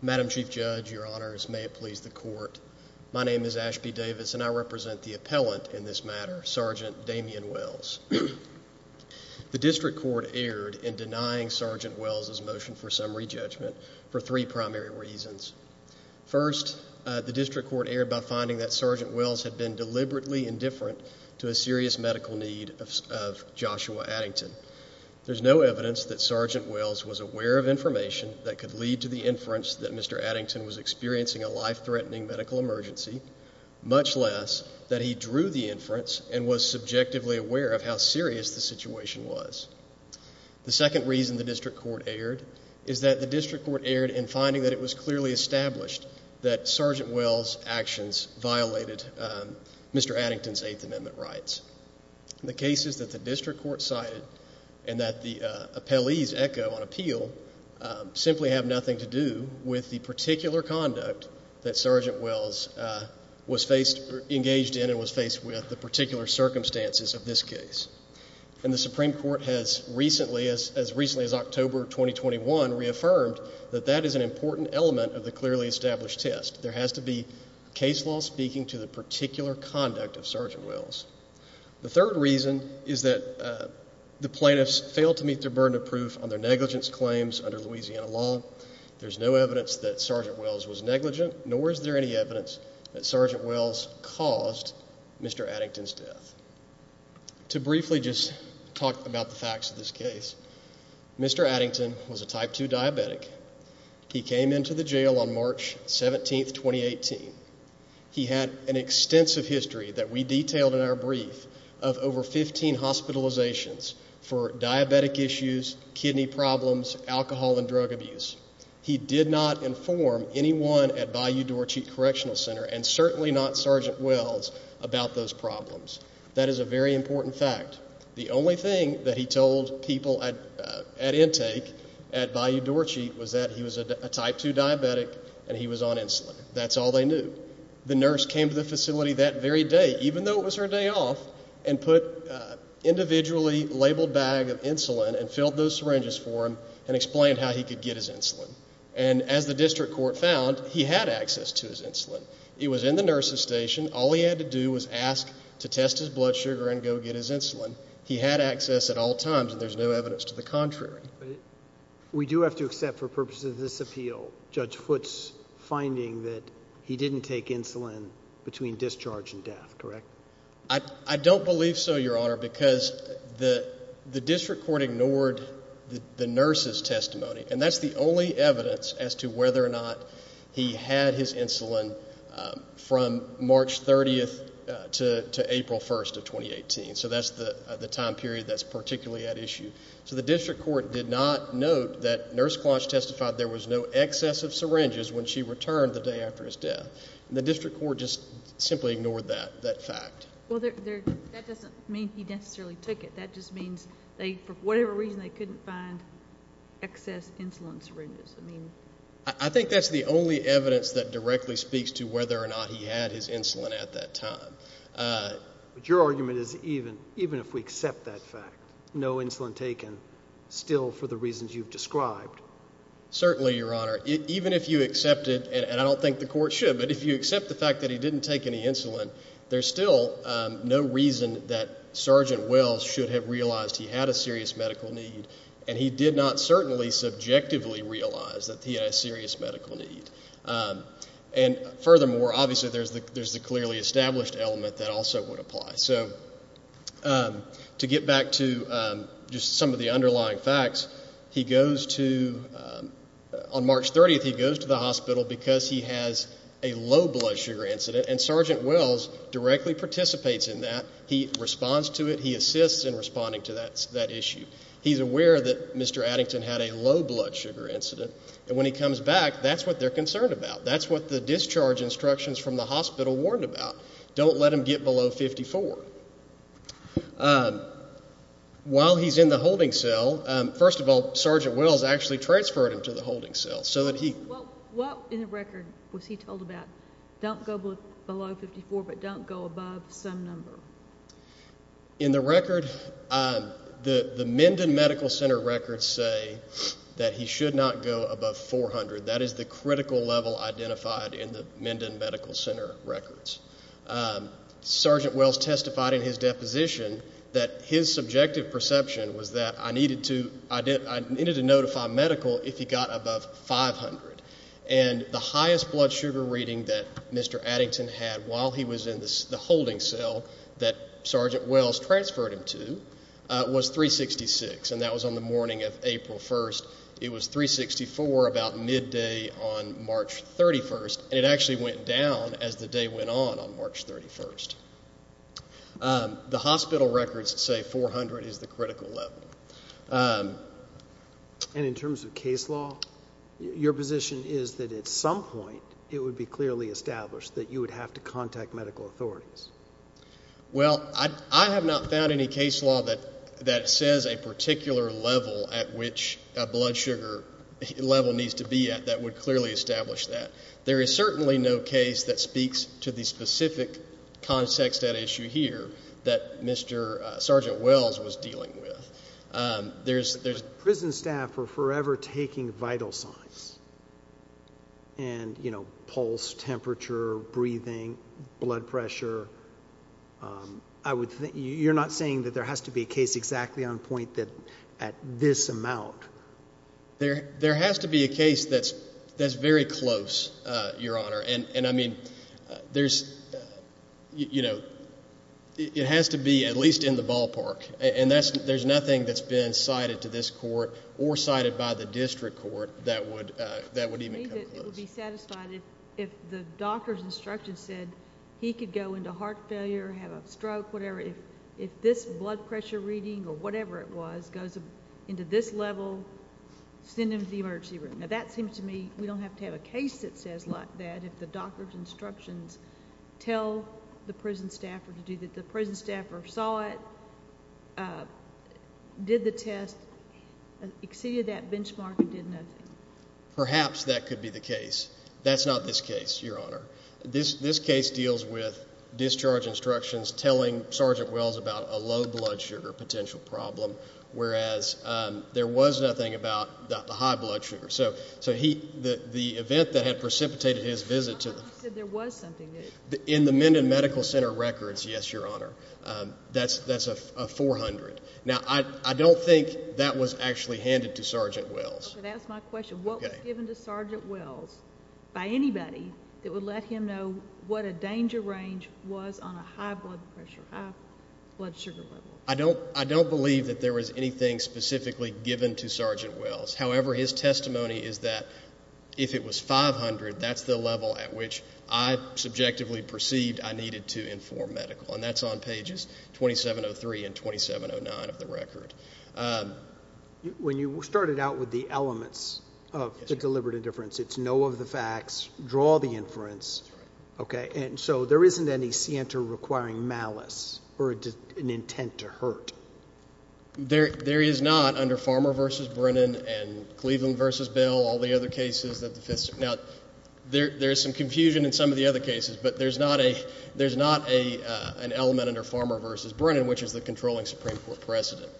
Madam Chief Judge, Your Honors, may it please the court. My name is Ashby Davis and I represent the appellant in this matter, Sgt. Damien Wells. The District Court erred in denying Sgt. Wells' motion for summary judgment for three primary reasons. First, the District Court erred by finding that Sgt. Wells had been deliberately indifferent to a serious medical need of Joshua Addington. There is no evidence that Sgt. Wells was aware of information that could lead to the inference that Mr. Addington was experiencing a life-threatening medical emergency, much less that he drew the inference and was subjectively aware of how serious the situation was. The second reason the District Court erred is that the District Court erred in finding that it was clearly established that Sgt. Wells' actions violated Mr. Addington's Eighth Amendment rights. The cases that the District Court cited and that the appellees echo on appeal simply have nothing to do with the particular conduct that Sgt. Wells was engaged in and was faced with, the particular circumstances of this case. And the Supreme Court has recently, as recently as October 2021, reaffirmed that that is an important element of the clearly established test. There has to be case law speaking to the particular conduct of Sgt. Wells. The third reason is that the plaintiffs failed to meet their burden of proof on their negligence claims under Louisiana law. There's no evidence that Sgt. Wells was negligent, nor is there any evidence that Sgt. Wells caused Mr. Addington's death. To briefly just talk about the facts of this case, Mr. Addington was a type 2 diabetic. He came into the jail on March 17, 2018. He had an extensive history that we detailed in our brief of over 15 hospitalizations for diabetic issues, kidney problems, alcohol and drug abuse. He did not inform anyone at Bayou Dorcheat Correctional Center and certainly not Sgt. Wells about those problems. That is a very important fact. The only thing that he told people at intake at Bayou Dorcheat was that he was a type 2 diabetic and he was on insulin. That's all they knew. The nurse came to the facility that very day, even though it was her day off, and put an individually labeled bag of insulin and filled those syringes for him and explained how he could get his insulin. As the district court found, he had access to his insulin. It was in the nurse's station. All he had to do was ask to test his blood sugar and go get his insulin. He had access at all times and there's no evidence to the contrary. We do have to accept for purposes of this appeal, Judge Foote's finding that he didn't take insulin between discharge and death, correct? I don't believe so, Your Honor, because the district court ignored the nurse's testimony. That's the only evidence as to whether or not he had his insulin from March 30 to April 1, 2018. That's the time period that's particularly at issue. The district court did not note that Nurse Closh testified there was no excess of syringes when she returned the day after his death. The district court just simply ignored that fact. That doesn't mean he necessarily took it. That just means for whatever reason they couldn't find excess insulin syringes. I think that's the only evidence that directly speaks to whether or not he had his insulin at that time. Your argument is even if we accept that fact, no insulin taken still for the reasons you've described? Certainly, Your Honor. Even if you accept it, and I don't think the court should, but if you accept the fact that he didn't take any insulin, there's still no reason that Sergeant Wells should have realized he had a serious medical need and he did not certainly subjectively realize that he had a serious medical need. Furthermore, obviously, there's the clearly established element that also would apply. So to get back to just some of the underlying facts, on March 30, he goes to the hospital because he has a low blood sugar incident, and Sergeant Wells directly participates in that. He responds to it. He assists in responding to that issue. He's aware that Mr. Addington had a low blood sugar incident, and when he comes back, that's what they're concerned about. That's what the discharge instructions from the hospital warned about. Don't let him get below 54. While he's in the holding cell, first of all, Sergeant Wells actually transferred him to the holding cell. What in the record was he told about? Don't go below 54, but don't go above some number. In the record, the Minden Medical Center records say that he should not go above 400. That is the critical level identified in the Minden Medical Center records. Sergeant Wells testified in his deposition that his subjective perception was that I needed to notify medical if he got above 500, and the highest blood sugar reading that Mr. Addington had while he was in the holding cell that Sergeant Wells transferred him to was 366, and that was on the morning of April 1st. It was 364 about midday on March 31st, and it actually went down as the day went on on March 31st. The hospital records say 400 is the critical level. And in terms of case law, your position is that at some point, it would be clearly established that you would have to contact medical authorities. Well, I have not found any case law that says a particular level at which a blood sugar level needs to be at that would clearly establish that. There is certainly no case that speaks to the specific context at issue here that Sergeant Wells was dealing with. Prison staff were forever taking vital signs, and pulse, temperature, breathing, blood pressure. You're not saying that there has to be a case exactly on point at this amount? There has to be a case that's very close, Your Honor. It has to be at least in the ballpark, and there's nothing that's been cited to this court or cited by the district court that would even come close. It would be satisfying if the doctor's instructions said he could go into heart failure, have a stroke, whatever. If this blood pressure reading or whatever it was goes into this level, send him to the emergency room. Now, that seems to me we don't have to have a case that says like that if the doctor's instructions tell the prison staffer to do that. The prison staffer saw it, did the test, exceeded that benchmark and did nothing. Perhaps that could be the case. That's not this case, Your Honor. This case deals with discharge instructions telling Sergeant Wells about a low blood sugar potential problem, whereas there was nothing about the high blood sugar. So the event that had precipitated his visit to the... How come you said there was something? In the Menden Medical Center records, yes, Your Honor. That's a 400. Now, I don't think that was actually handed to Sergeant Wells. Okay, that's my question. What was given to Sergeant Wells by anybody that would let him know what a danger range was on a high blood pressure, high blood sugar level? I don't believe that there was anything specifically given to Sergeant Wells. However, his testimony is that if it was 500, that's the level at which I subjectively perceived I needed to inform medical. And that's on pages 2703 and 2709 of the record. When you started out with the elements of the deliberate indifference, it's know of the facts, draw the inference. Okay, and so there isn't any scienter requiring malice or an intent to hurt. There is not under Farmer v. Brennan and Cleveland v. Bell, all the other cases. Now, there is some confusion in some of the other cases, but there's not an element under Farmer v. Brennan, which is the controlling Supreme Court precedent.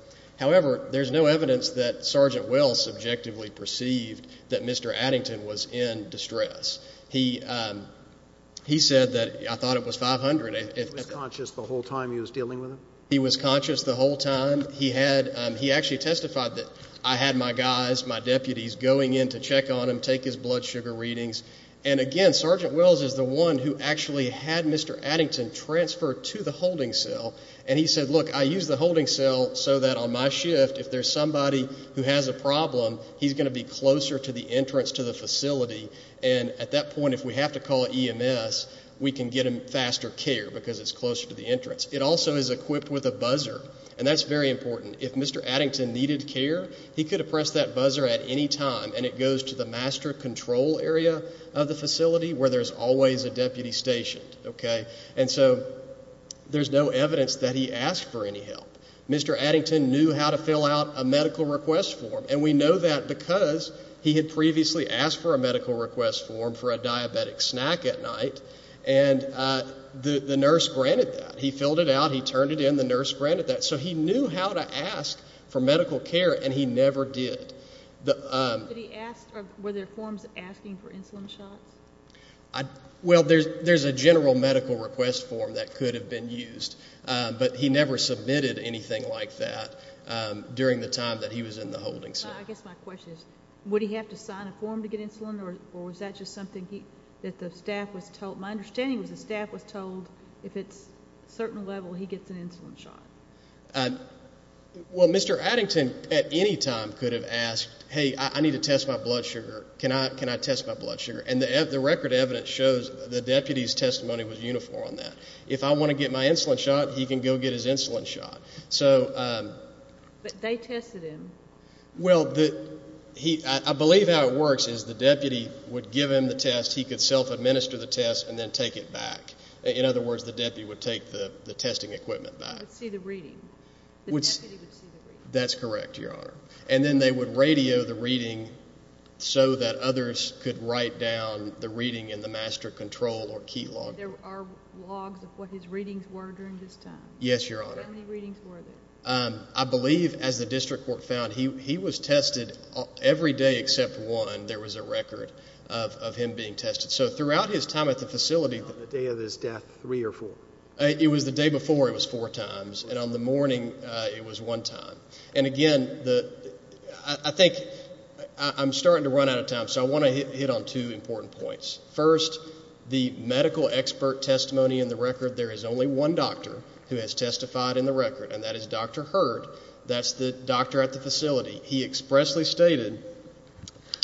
However, there's no evidence that Sergeant Wells subjectively perceived that Mr. Addington was in distress. He said that I thought it was 500. He was conscious the whole time he was dealing with him? He was conscious the whole time. He actually testified that I had my guys, my deputies, going in to check on him, take his blood sugar readings. And again, Sergeant Wells is the one who actually had Mr. Addington transfer to the holding cell, and he said, look, I use the holding cell so that on my shift, if there's somebody who has a problem, he's going to be closer to the entrance to the facility. And at that point, if we have to call EMS, we can get him faster care because it's closer to the entrance. It also is equipped with a buzzer, and that's very important. If Mr. Addington needed care, he could have pressed that buzzer at any time, and it goes to the master control area of the facility, where there's always a deputy stationed. And so there's no evidence that he asked for any help. Mr. Addington knew how to fill out a medical request form, and we know that because he had previously asked for a medical request form for a diabetic snack at night, and the nurse granted that. He filled it out, he turned it in, the nurse granted that. So he knew how to ask for medical care, and he never did. Were there forms asking for insulin shots? Well, there's a general medical request form that could have been used, but he never submitted anything like that during the time that he was in the holding cell. I guess my question is, would he have to sign a form to get insulin, or was that just something that the staff was told? My understanding was the staff was told if it's a certain level, he gets an insulin shot. Well, Mr. Addington at any time could have asked, hey, I need to test my blood sugar. Can I test my blood sugar? And the record evidence shows the deputy's testimony was uniform on that. If I want to get my insulin shot, he can go get his insulin shot. But they tested him. Well, I believe how it works is the deputy would give him the test, he could self-administer the test, and then take it back. In other words, the deputy would take the testing equipment back. The deputy would see the reading. That's correct, Your Honor. And then they would radio the reading so that others could write down the reading in the master control or key log. There are logs of what his readings were during this time. Yes, Your Honor. How many readings were there? I believe as the district court found, he was tested every day except one. There was a record of him being tested. So throughout his time at the facility... On the day of his death, three or four? It was the day before, it was four times. On the morning, it was one time. And again, I think I'm starting to run out of time, so I want to hit on two important points. First, the medical expert testimony in the record, there is only one doctor who has testified in the record, and that is Dr. Hurd. That's the doctor at the facility. He expressly stated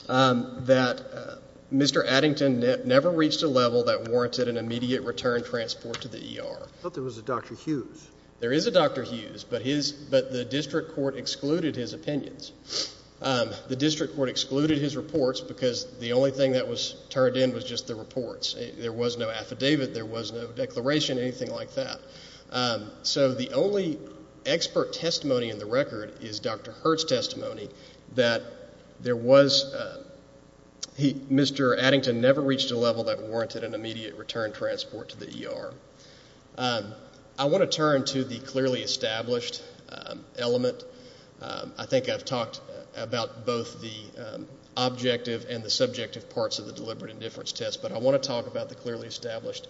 that Mr. Addington never reached a level that warranted an immediate return transport to the ER. But there was a Dr. Hughes. But the district court excluded his opinions. The district court excluded his reports because the only thing that was turned in was just the reports. There was no affidavit. There was no declaration, anything like that. So the only expert testimony in the record is Dr. Hurd's testimony that Mr. Addington never reached a level that warranted an immediate return transport to the ER. I want to turn to the clearly established element. I think I've talked about both the objective and the subjective parts of the deliberate indifference test, but I want to talk about the clearly established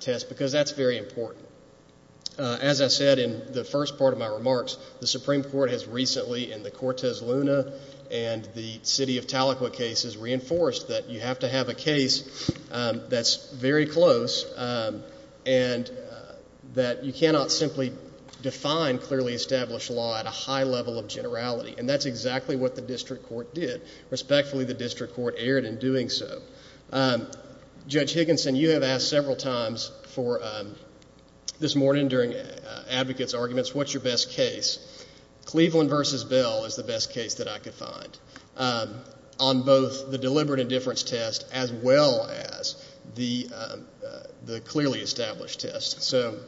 test because that's very important. As I said in the first part of my remarks, the Supreme Court has recently, in the Cortez Luna and the City of Tahlequah cases, reinforced that you have to have a case that's very close and that you cannot simply define clearly established law at a high level of generality. And that's exactly what the district court did. Respectfully, the district court erred in doing so. Judge Higginson, you have asked several times for this morning during advocates' arguments, what's your best case? Cleveland v. Bell is the best case that I could find on both the deliberate indifference test as well as the clearly established test. So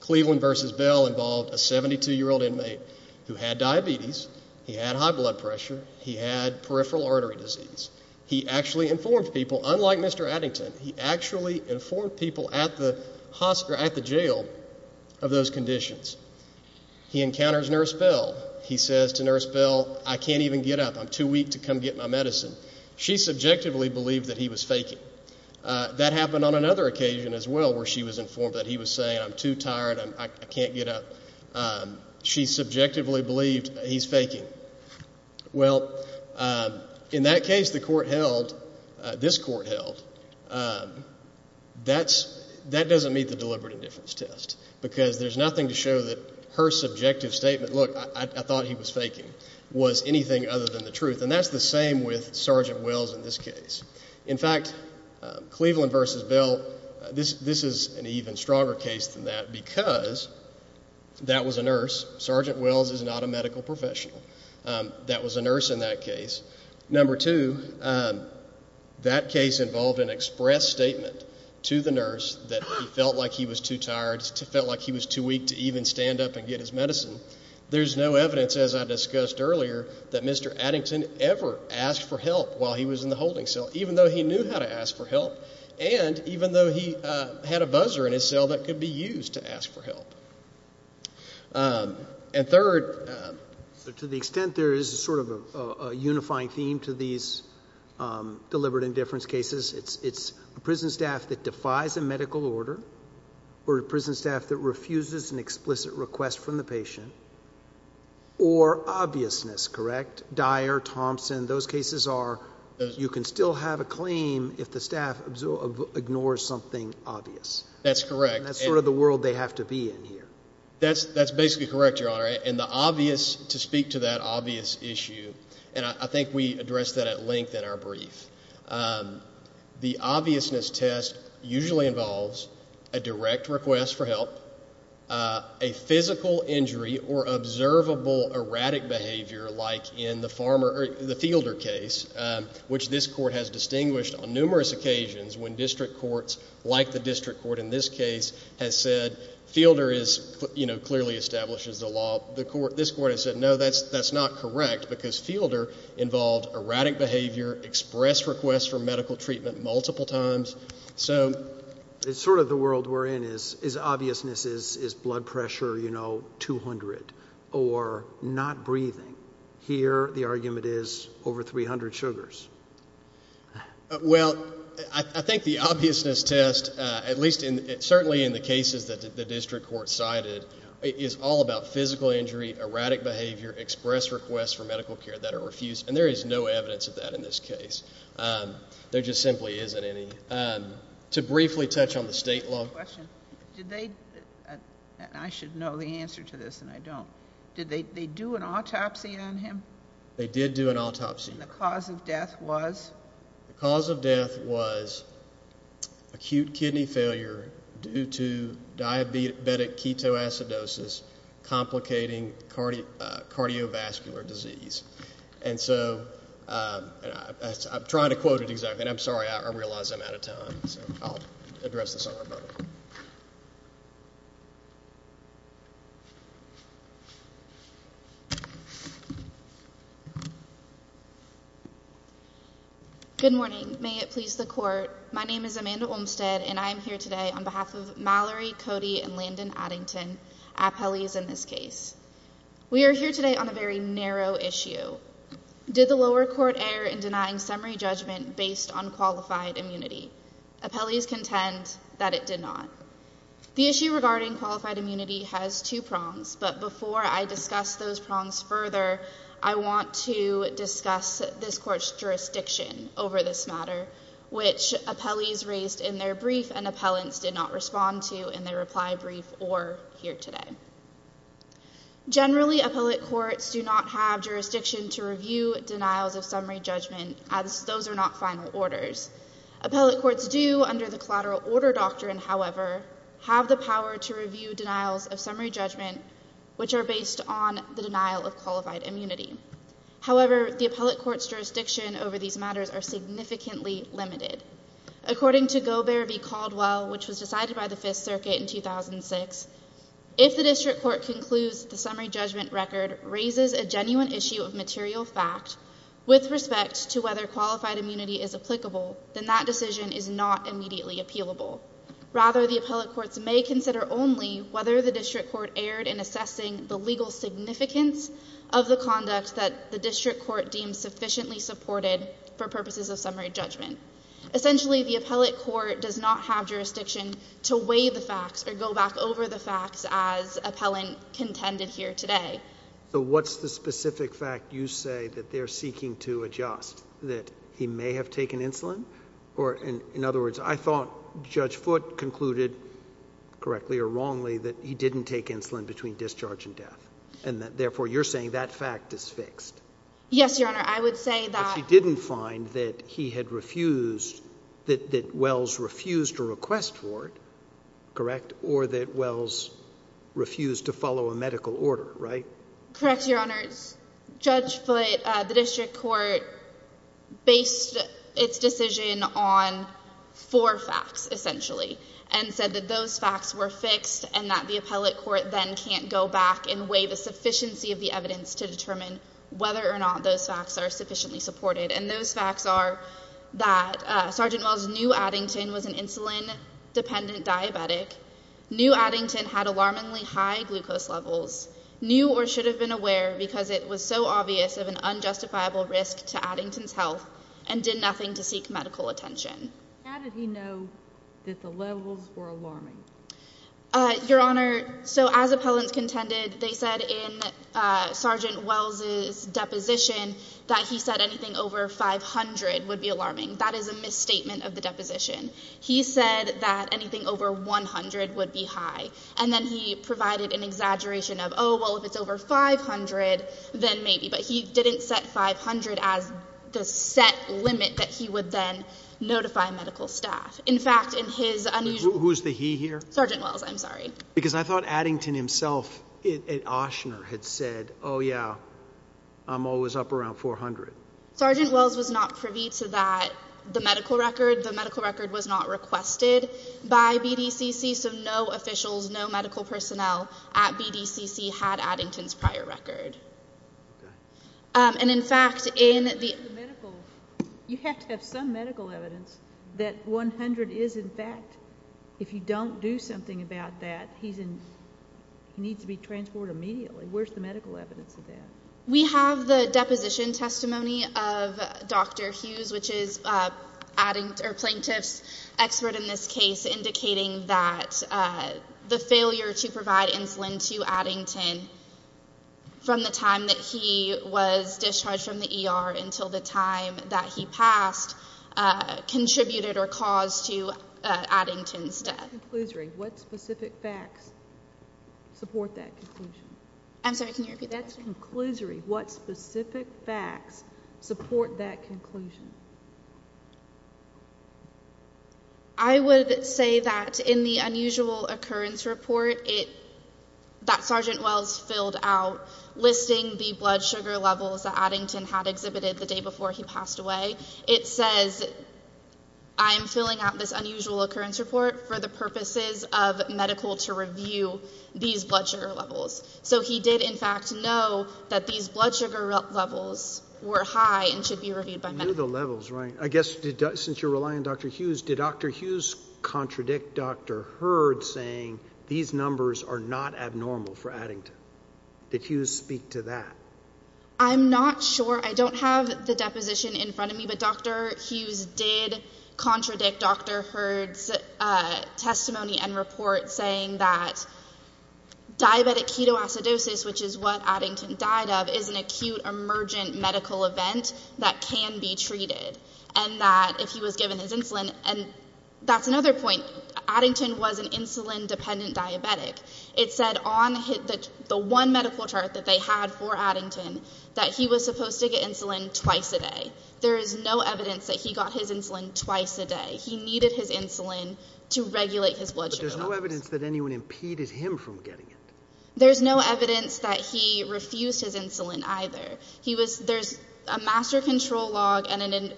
Cleveland v. Bell involved a 72-year-old inmate who had diabetes. He had high blood pressure. He had peripheral artery disease. He actually informed people. Unlike Mr. Addington, he actually informed people at the jail of those conditions. He encounters Nurse Bell. He says to Nurse Bell, I can't even get up. I'm too weak to come get my medicine. She subjectively believed that he was faking. That happened on another occasion as well where she was informed that he was saying, I'm too tired, I can't get up. She subjectively believed he's faking. Well, in that case, the court held, this court held, that doesn't meet the deliberate indifference test because there's nothing to show that her subjective statement, look, I thought he was faking, was anything other than the truth. And that's the same with Sergeant Wells in this case. In fact, Cleveland v. Bell, this is an even stronger case than that because that was a nurse. Sergeant Wells is not a medical professional. That was a nurse in that case. Number two, that case involved an express statement to the nurse that he felt like he was too tired, felt like he was too weak to even stand up and get his medicine. There's no evidence, as I discussed earlier, that Mr. Addington ever asked for help while he was in the holding cell, even though he knew how to ask for help and even though he had a buzzer in his cell that could be used to ask for help. And third... To the extent there is sort of a unifying theme to these deliberate indifference cases, it's a prison staff that defies a medical order or a prison staff that refuses an explicit request from the patient or obviousness, correct? Dyer, Thompson, those cases are... You can still have a claim if the staff ignores something obvious. That's correct. And that's sort of the world they have to be in here. That's basically correct, Your Honor. And the obvious... To speak to that obvious issue, and I think we addressed that at length in our brief, the obviousness test usually involves a direct request for help, a physical injury or observable erratic behavior like in the Fielder case, which this court has distinguished on numerous occasions when district courts like the district court in this case has said Fielder clearly establishes the law. This court has said, no, that's not correct because Fielder involved erratic behavior, express requests for medical treatment multiple times. So... It's sort of the world we're in versus is blood pressure, you know, 200 or not breathing. Here, the argument is over 300 sugars. Well, I think the obviousness test, at least certainly in the cases that the district court cited, is all about physical injury, erratic behavior, express requests for medical care that are refused, and there is no evidence of that in this case. There just simply isn't any. To briefly touch on the state law... I have a question. Did they... I should know the answer to this, and I don't. Did they do an autopsy on him? They did do an autopsy. And the cause of death was? The cause of death was acute kidney failure due to diabetic ketoacidosis, complicating cardiovascular disease. And so... I'm trying to quote it exactly, and I'm sorry, I realize I'm out of time. So I'll address this on my own. Good morning. May it please the court. My name is Amanda Olmstead, and I am here today on behalf of Mallory, Cody, and Landon Addington, appellees in this case. We are here today on a very narrow issue. Did the lower court err in denying summary judgment based on qualified immunity? Appellees contend that it did not. The issue regarding qualified immunity has two prongs, but before I discuss those prongs further, I want to discuss this court's jurisdiction over this matter, which appellees raised in their brief and appellants did not respond to in their reply brief or here today. Generally, appellate courts do not have jurisdiction to review denials of summary judgment as those are not final orders. Appellate courts do, under the collateral order doctrine, however, have the power to review denials of summary judgment, which are based on the denial of qualified immunity. However, the appellate court's jurisdiction over these matters are significantly limited. According to Gobert v. Caldwell, which was decided by the Fifth Circuit in 2006, if the district court concludes the summary judgment record raises a genuine issue of material fact with respect to whether qualified immunity is applicable, then that decision is not immediately appealable. Rather, the appellate courts may consider only whether the district court erred in assessing the legal significance of the conduct that the district court deemed sufficiently supported for purposes of summary judgment. Essentially, the appellate court does not have jurisdiction to weigh the facts or go back over the facts as appellant contended here today. So what's the specific fact you say that they're seeking to adjust, that he may have taken insulin? Or in other words, I thought Judge Foote concluded, correctly or wrongly, that he didn't take insulin between discharge and death. And therefore, you're saying that fact is fixed? Yes, Your Honor, I would say that... But you didn't find that he had refused, that Wells refused a request for it, correct? Or that Wells refused to follow a medical order, right? Correct, Your Honors. Judge Foote, the district court, based its decision on four facts, essentially, and said that those facts were fixed and that the appellate court then can't go back and weigh the sufficiency of the evidence to determine whether or not those facts are sufficiently supported. And those facts are that Sergeant Wells knew Addington was an insulin-dependent diabetic, knew Addington had alarmingly high glucose levels, knew or should have been aware because it was so obvious of an unjustifiable risk to Addington's health, and did nothing to seek medical attention. How did he know that the levels were alarming? Your Honor, so as appellants contended, they said in Sergeant Wells' deposition that he said anything over 500 would be alarming. That is a misstatement of the deposition. He said that anything over 100 would be high. And then he provided an exaggeration of, oh, well, if it's over 500, then maybe. He didn't set 500 as the set limit that he would then notify medical staff. In fact, in his unusual... Who's the he here? Sergeant Wells, I'm sorry. Because I thought Addington himself at Oshner had said, oh, yeah, I'm always up around 400. Sergeant Wells was not privy to that, the medical record. The medical record was not requested by BDCC, so no officials, no medical personnel at BDCC had Addington's prior record. Okay. And, in fact, in the... You have to have some medical evidence that 100 is, in fact, if you don't do something about that, he needs to be transported immediately. Where's the medical evidence of that? We have the deposition testimony of Dr. Hughes, which is Plaintiff's expert in this case, indicating that the failure to provide insulin to Addington from the time that he was discharged from the ER until the time that he passed contributed or caused to Addington's death. What specific facts support that conclusion? I'm sorry, can you repeat that? What specific facts support that conclusion? I would say that in the unusual occurrence report, that Sergeant Wells filled out, listing the blood sugar levels that Addington had exhibited the day before he passed away, it says, I'm filling out this unusual occurrence report for the purposes of medical to review these blood sugar levels. So he did, in fact, know that these blood sugar levels were high and should be reviewed by medical. You knew the levels, right? I guess, since you're relying on Dr. Hughes, did Dr. Hughes contradict Dr. Hurd, saying these numbers are not abnormal for Addington? Did Hughes speak to that? I'm not sure. I don't have the deposition in front of me, but Dr. Hughes did contradict Dr. Hurd's testimony and report saying that diabetic ketoacidosis, which is what Addington died of, is an acute emergent medical event that can be treated, and that if he was given his insulin, and that's another point. Addington was an insulin-dependent diabetic. It said on the one medical chart that they had for Addington that he was supposed to get insulin twice a day. There is no evidence that he got his insulin twice a day. He needed his insulin to regulate his blood sugar levels. But there's no evidence that anyone impeded him from getting it. There's no evidence that he refused his insulin either. There's a master control log and an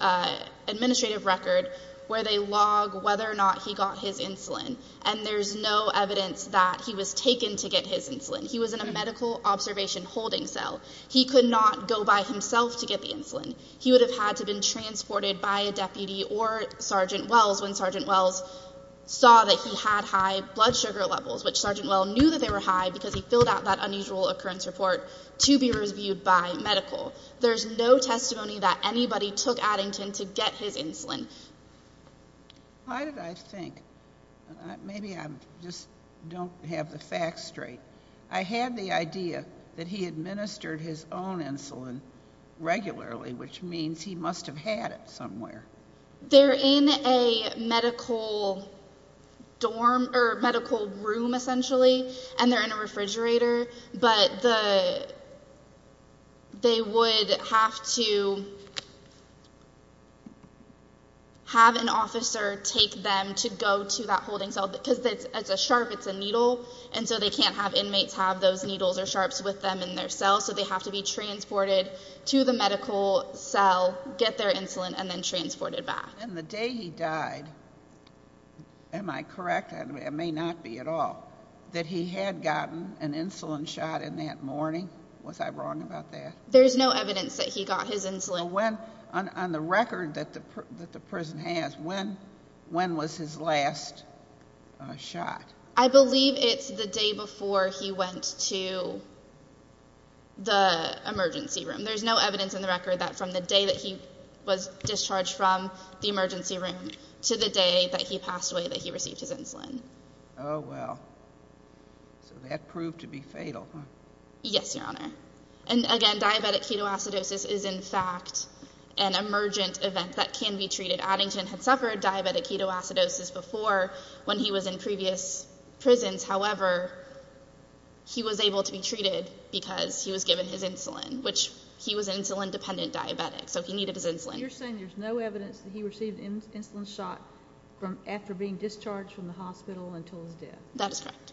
administrative record where they log whether or not he got his insulin, and there's no evidence that he was taken to get his insulin. He was in a medical observation holding cell. He could not go by himself to get the insulin. He would have had to have been transported by a deputy or Sergeant Wells when Sergeant Wells saw that he had high blood sugar levels, which Sergeant Wells knew that they were high because he filled out that unusual occurrence report There's no testimony that anybody took Addington to get his insulin. Why did I think? Maybe I just don't have the facts straight. I had the idea that he administered his own insulin regularly, which means he must have had it somewhere. They're in a medical room, essentially, and they're in a refrigerator, but they would have to have an officer take them to go to that holding cell because it's a sharp, it's a needle, and so they can't have inmates have those needles or sharps with them in their cells, so they have to be transported to the medical cell, get their insulin, and then transported back. And the day he died, am I correct? It may not be at all, that he had gotten an insulin shot in that morning. Was I wrong about that? There's no evidence that he got his insulin. On the record that the prison has, when was his last shot? I believe it's the day before he went to the emergency room. There's no evidence in the record that from the day that he was discharged from the emergency room to the day that he passed away that he received his insulin. Oh, well. So that proved to be fatal, huh? Yes, Your Honor. And again, diabetic ketoacidosis is in fact an emergent event that can be treated. Addington had suffered diabetic ketoacidosis before when he was in previous prisons. However, he was able to be treated because he was given his insulin, which he was an insulin-dependent diabetic, so he needed his insulin. You're saying there's no evidence that he received an insulin shot after being discharged from the hospital until his death? That's right.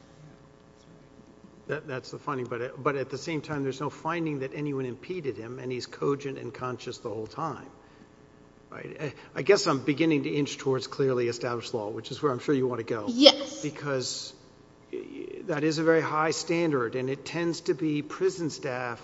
That's the finding. But at the same time, there's no finding that anyone impeded him, and he's cogent and conscious the whole time. I guess I'm beginning to inch towards clearly established law, which is where I'm sure you want to go. Yes. Because that is a very high standard, and it tends to be prison staff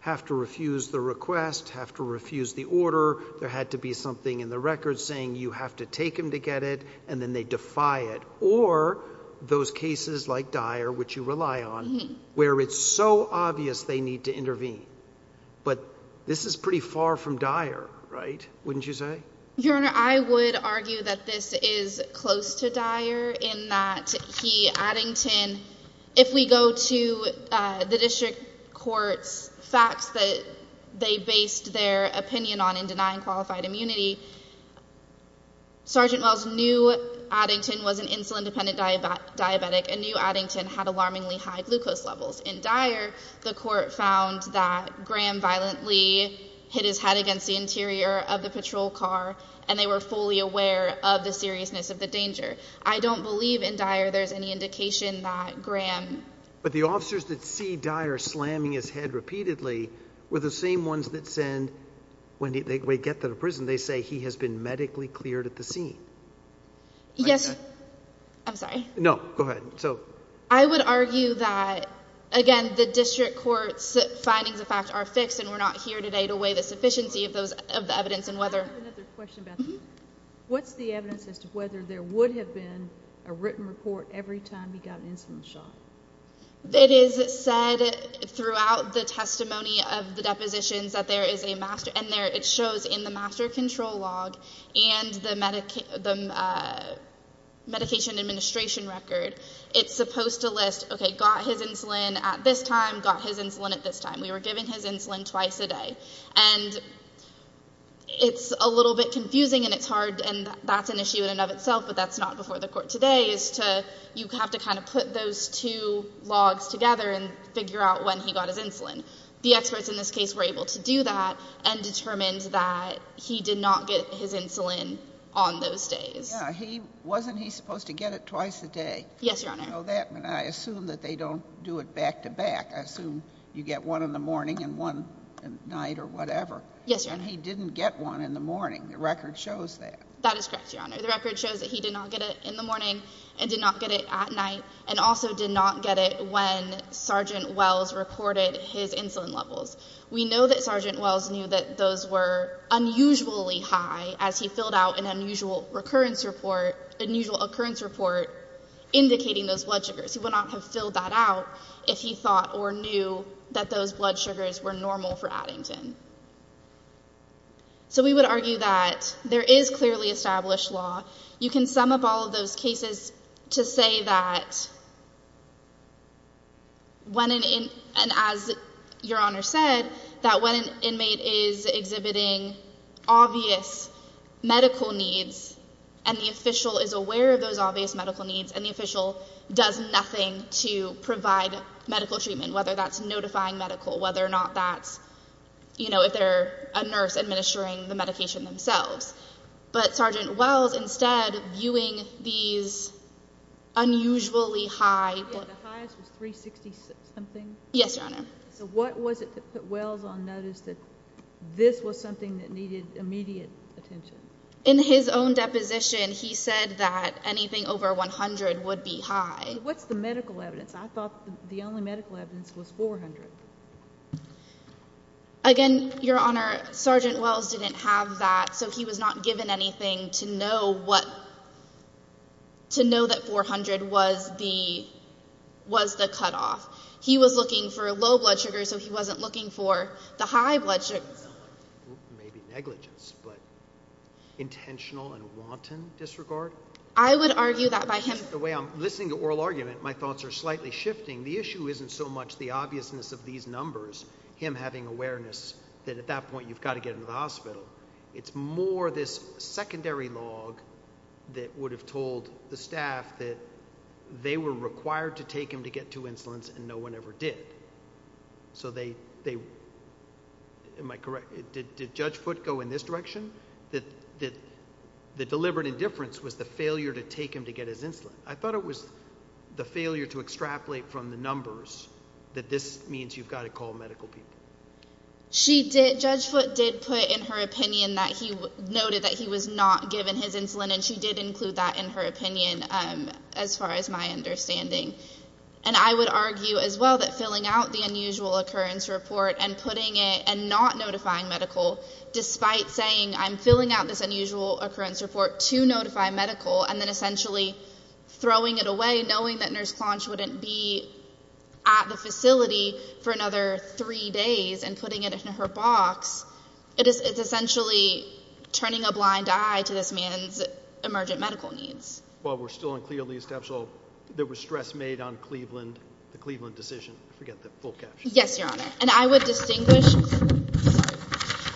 have to refuse the request, have to refuse the order. There had to be something in the record saying you have to take him to get it, and then they defy it. Or those cases like Dyer, which you rely on, where it's so obvious they need to intervene. But this is pretty far from Dyer, right? Wouldn't you say? Your Honor, I would argue that this is close to Dyer in that he, Addington, if we go to the district court's facts that they based their opinion on in denying qualified immunity, Sergeant Wells knew Addington was an insulin-dependent diabetic and knew Addington had alarmingly high glucose levels. In Dyer, the court found that Graham violently hit his head against the interior of the patrol car, and they were fully aware of the seriousness of the danger. I don't believe in Dyer there's any indication that Graham... But the officers that see Dyer slamming his head repeatedly were the same ones that send, when they get to the prison, they say he has been medically cleared at the scene. Yes. I'm sorry. No, go ahead. I would argue that, again, the district court's findings of fact are fixed, and we're not here today to weigh the sufficiency of the evidence and whether... I have another question about that. What's the evidence as to whether there would have been a written report every time he got an insulin shot? It is said throughout the testimony of the depositions that there is a master... And it shows in the master control log and the medication administration record, it's supposed to list, okay, got his insulin at this time, got his insulin at this time. We were giving his insulin twice a day. And it's a little bit confusing, and it's hard, and that's an issue in and of itself, but that's not before the court today, and figure out when he got his insulin. The experts in this case were able to do that and determined that he did not get his insulin on those days. Yeah. Wasn't he supposed to get it twice a day? Yes, Your Honor. I assume that they don't do it back-to-back. I assume you get one in the morning and one at night or whatever. Yes, Your Honor. And he didn't get one in the morning. The record shows that. That is correct, Your Honor. and did not get it at night, and also did not get it when Sergeant Wells reported his insulin levels. We know that Sergeant Wells knew that those were unusually high as he filled out an unusual occurrence report indicating those blood sugars. He would not have filled that out if he thought or knew that those blood sugars were normal for Addington. So we would argue that there is clearly established law. You can sum up all of those cases to say that when an inmate, and as Your Honor said, that when an inmate is exhibiting obvious medical needs and the official is aware of those obvious medical needs and the official does nothing to provide medical treatment, whether that's notifying medical, whether or not that's, you know, if they're a nurse administering the medication themselves. But Sergeant Wells, instead, viewing these unusually high... The highest was 360-something? Yes, Your Honor. So what was it that put Wells on notice that this was something that needed immediate attention? In his own deposition, he said that anything over 100 would be high. What's the medical evidence? I thought the only medical evidence was 400. Again, Your Honor, Sergeant Wells didn't have that, so he was not given anything to know that 400 was the cutoff. He was looking for low blood sugars, so he wasn't looking for the high blood sugars. Maybe negligence, but intentional and wanton disregard? I would argue that by him... The way I'm listening to oral argument, my thoughts are slightly shifting. The issue isn't so much the obviousness of these numbers, him having awareness that at that point you've got to get him to the hospital. It's more this secondary log that would have told the staff that they were required to take him to get two insulins, and no one ever did. So they... Am I correct? Did Judge Foote go in this direction? The deliberate indifference was the failure to take him to get his insulin. I thought it was the failure to extrapolate from the numbers that this means you've got to call medical people. She did... Noted that he was not given his insulin, and she did include that in her opinion, as far as my understanding. And I would argue as well that filling out the unusual occurrence report and putting it... And not notifying medical, despite saying, I'm filling out this unusual occurrence report to notify medical, and then essentially throwing it away, knowing that Nurse Clonch wouldn't be at the facility for another three days, and putting it in her box, it is essentially turning a blind eye to this man's emergent medical needs. While we're still unclear, there was stress made on Cleveland, the Cleveland decision. Yes, Your Honor. And I would distinguish...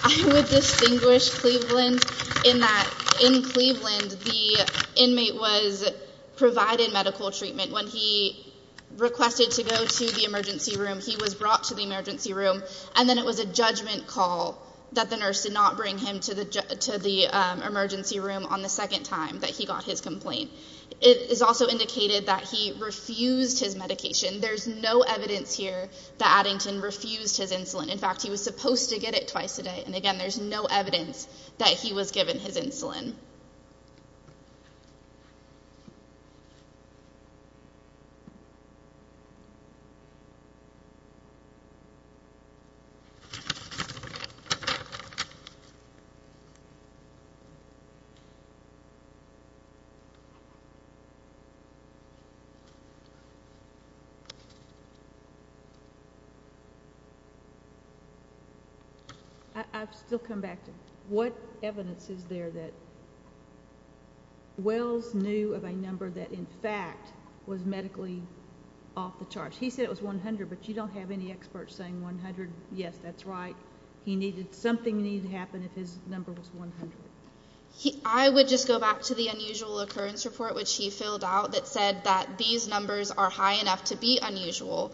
I would distinguish Cleveland in that in Cleveland, the inmate was provided medical treatment. When he requested to go to the emergency room, he was brought to the emergency room, and then it was a judgment call that the nurse did not bring him to the emergency room on the second time that he got his complaint. It is also indicated that he refused his medication. There's no evidence here that Addington refused his insulin. In fact, he was supposed to get it twice a day, and again, there's no evidence that he was given his insulin. Thank you. I've still come back to, what evidence is there that Wells knew of a number that in fact was medically off the charts? He said it was 100, but you don't have any experts saying 100. Yes, that's right. Something needed to happen if his number was 100. I would just go back to the unusual occurrence report, which he filled out, that said that these numbers are high enough to be unusual.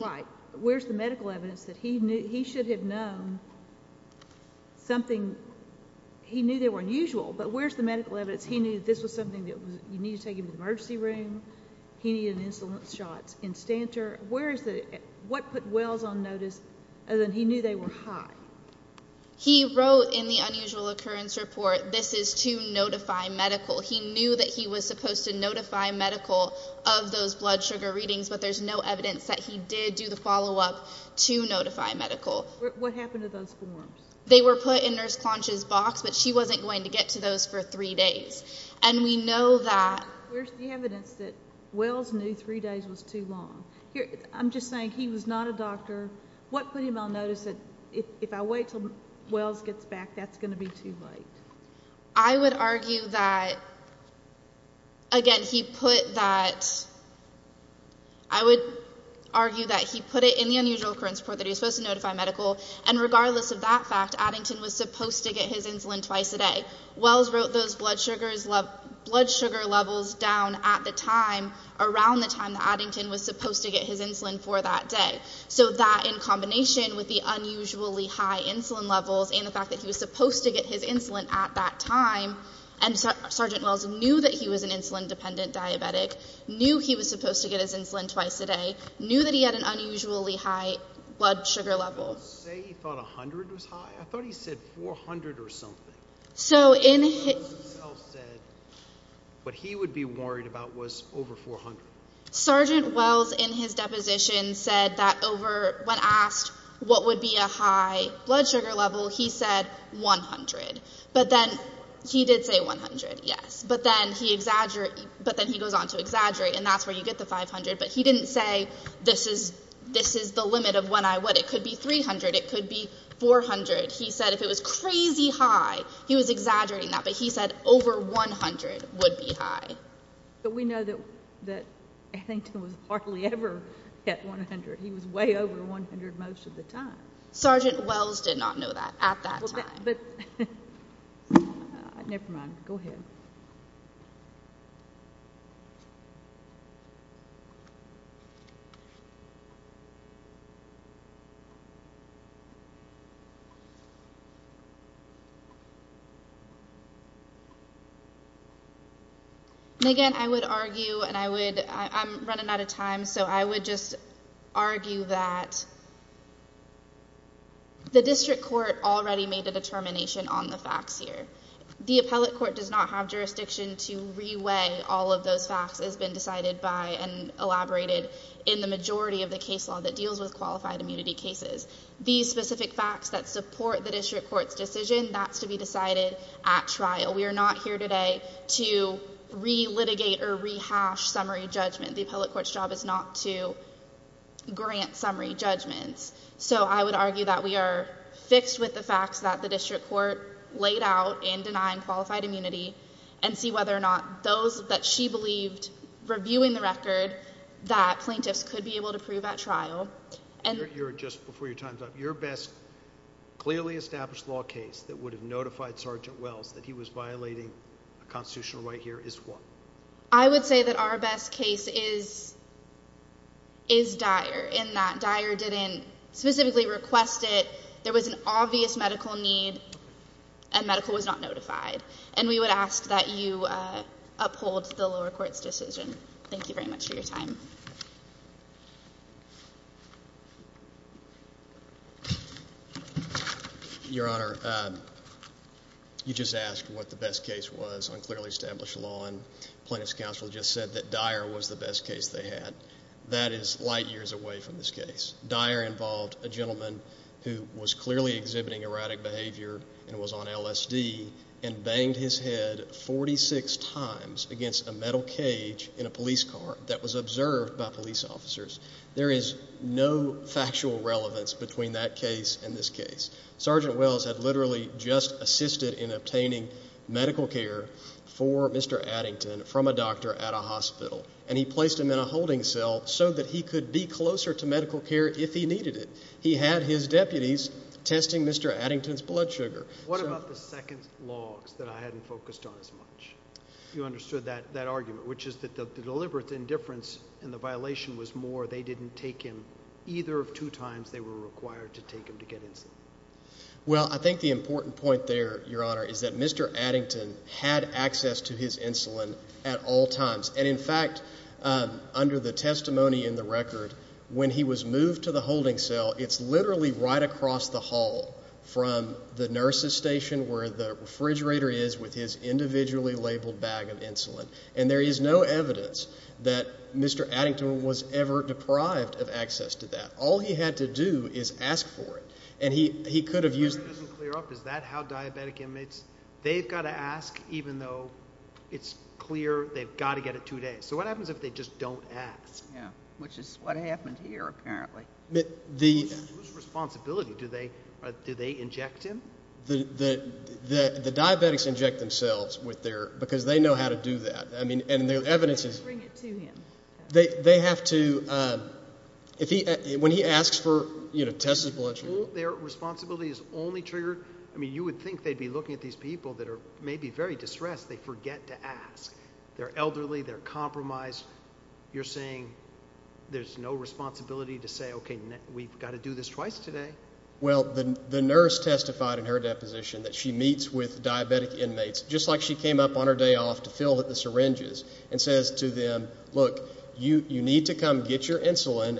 Right. Where's the medical evidence that he should have known something? He knew they were unusual, but where's the medical evidence he knew this was something that you needed to take him to the emergency room? He needed insulin shots. Where is it? What put Wells on notice that he knew they were high? He wrote in the unusual occurrence report, this is to notify medical. He knew that he was supposed to notify medical of those blood sugar readings, but there's no evidence that he did do the follow-up to notify medical. What happened to those forms? They were put in Nurse Clonch's box, but she wasn't going to get to those for three days. And we know that... Where's the evidence that Wells knew three days was too long? I'm just saying, he was not a doctor. What put him on notice that if I wait until Wells gets back, that's going to be too late? I would argue that, again, he put that... I would argue that he put it in the unusual occurrence report that he was supposed to notify medical, and regardless of that fact, Addington was supposed to get his insulin twice a day. Wells wrote those blood sugar levels down at the time, around the time that Addington was supposed to get his insulin for that day. So that, in combination with the unusually high insulin levels and the fact that he was supposed to get his insulin at that time, and Sergeant Wells knew that he was an insulin-dependent diabetic, knew he was supposed to get his insulin twice a day, knew that he had an unusually high blood sugar level. Did he say he thought 100 was high? I thought he said 400 or something. So in... Wells himself said what he would be worried about was over 400. Sergeant Wells, in his deposition, said that over... When asked what would be a high blood sugar level, he said 100. But then, he did say 100, yes. But then he goes on to exaggerate, and that's where you get the 500. But he didn't say, this is the limit of when I would. It could be 300. It could be 400. He said over 100 would be high. But we know that Addington was hardly ever at 100. He was way over 100 most of the time. Sergeant Wells did not know that at that time. But... Never mind. Go ahead. Again, I would argue, and I would... I'm running out of time, so I would just argue that the district court already made a determination on the facts here. The appellate court does not have jurisdiction to re-weigh all of those facts as been decided by and elaborated in the majority of the case law that deals with qualified immunity cases. These specific facts that support the district court's decision, even that's to be decided at trial. We are not here today to re-litigate or re-hash summary judgment. The appellate court's job is not to grant summary judgments. So I would argue that we are fixed with the facts that the district court laid out in denying qualified immunity and see whether or not those that she believed reviewing the record that plaintiffs could be able to prove at trial. And... You're just, before your time's up, your best clearly established law case that would have notified Sergeant Wells that he was violating a constitutional right here is what? I would say that our best case is... is Dyer, in that Dyer didn't specifically request it. There was an obvious medical need and medical was not notified. And we would ask that you uphold the lower court's decision. Thank you very much for your time. Your Honor, you just asked what the best case was on clearly established law and plaintiff's counsel just said that Dyer was the best case they had. That is light years away from this case. Dyer involved a gentleman who was clearly exhibiting erratic behavior and was on LSD and banged his head 46 times against a metal cage in a police car that was observed by police officers. There is no factual relevance between that case and this case. Sergeant Wells had literally just assisted in obtaining medical care for Mr. Addington from a doctor at a hospital and he placed him in a holding cell so that he could be closer to medical care if he needed it. He had his deputies testing Mr. Addington's blood sugar. What about the second logs that I hadn't focused on as much? You understood that argument which is that the deliberate indifference and the violation was more than required to take him to get insulin. Well, I think the important point there, Your Honor, is that Mr. Addington had access to his insulin at all times. And in fact, under the testimony in the record, when he was moved to the holding cell, it's literally right across the hall from the nurse's station where the refrigerator is with his individually labeled bag of insulin. And there is no evidence that Mr. Addington was ever deprived of access to that. He just asked for it. And he could have used... Is that how diabetic inmates... They've got to ask even though it's clear they've got to get it two days. So what happens if they just don't ask? Yeah, which is what happened here apparently. Who's responsibility? Do they inject him? The diabetics inject themselves because they know how to do that. And the evidence is... Bring it to him. They have to... Their responsibility is only triggered... I mean, you would think they'd be looking at these people that are maybe very distressed. They forget to ask. They're elderly. They're compromised. You're saying there's no responsibility to say, okay, we've got to do this twice today. Well, the nurse testified in her deposition that she meets with diabetic inmates just like she came up on her day off to fill the syringes and says to them, look, you need to come get your insulin.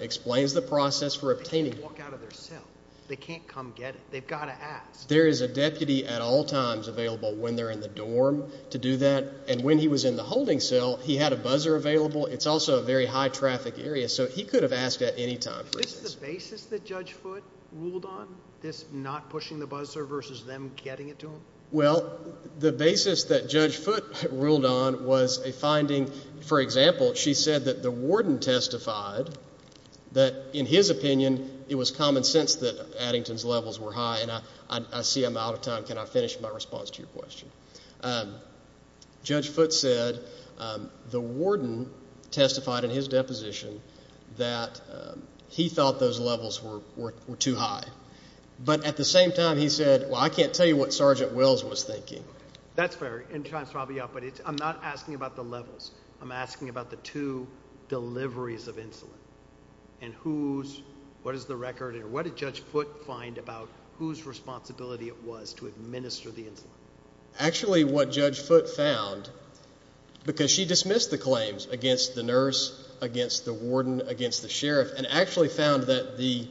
They can't come get it. They've got to ask. There is a deputy at all times available when they're in the dorm to do that. And when he was in the holding cell, he had a buzzer available. It's also a very high traffic area. So he could have asked at any time. Is this the basis that Judge Foote ruled on? This not pushing the buzzer versus them getting it to him? Well, the basis that Judge Foote ruled on was a finding, for example, she said that the warden testified that in his opinion she sensed that Addington's levels were high and I see I'm out of time. Can I finish my response to your question? Judge Foote said the warden testified in his deposition that he thought those levels were too high. But at the same time, he said, well, I can't tell you what Sergeant Wills was thinking. That's fair. I'm not asking about the levels. I'm asking about the two deliveries of insulin and who's, what is the record or what did Judge Foote find about whose responsibility it was to administer the insulin? Actually, what Judge Foote found, because she dismissed the claims against the nurse, against the warden, against the sheriff, and actually found that the,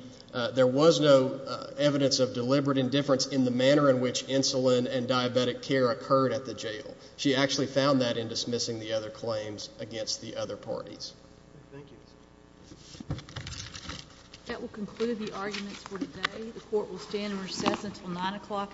there was no evidence of deliberate indifference in the manner in which insulin and diabetic care occurred at the jail. She actually found that in dismissing the other claims against the other parties. Thank you. Those are our arguments for today. The court will stand in recess until 9 o'clock in the morning.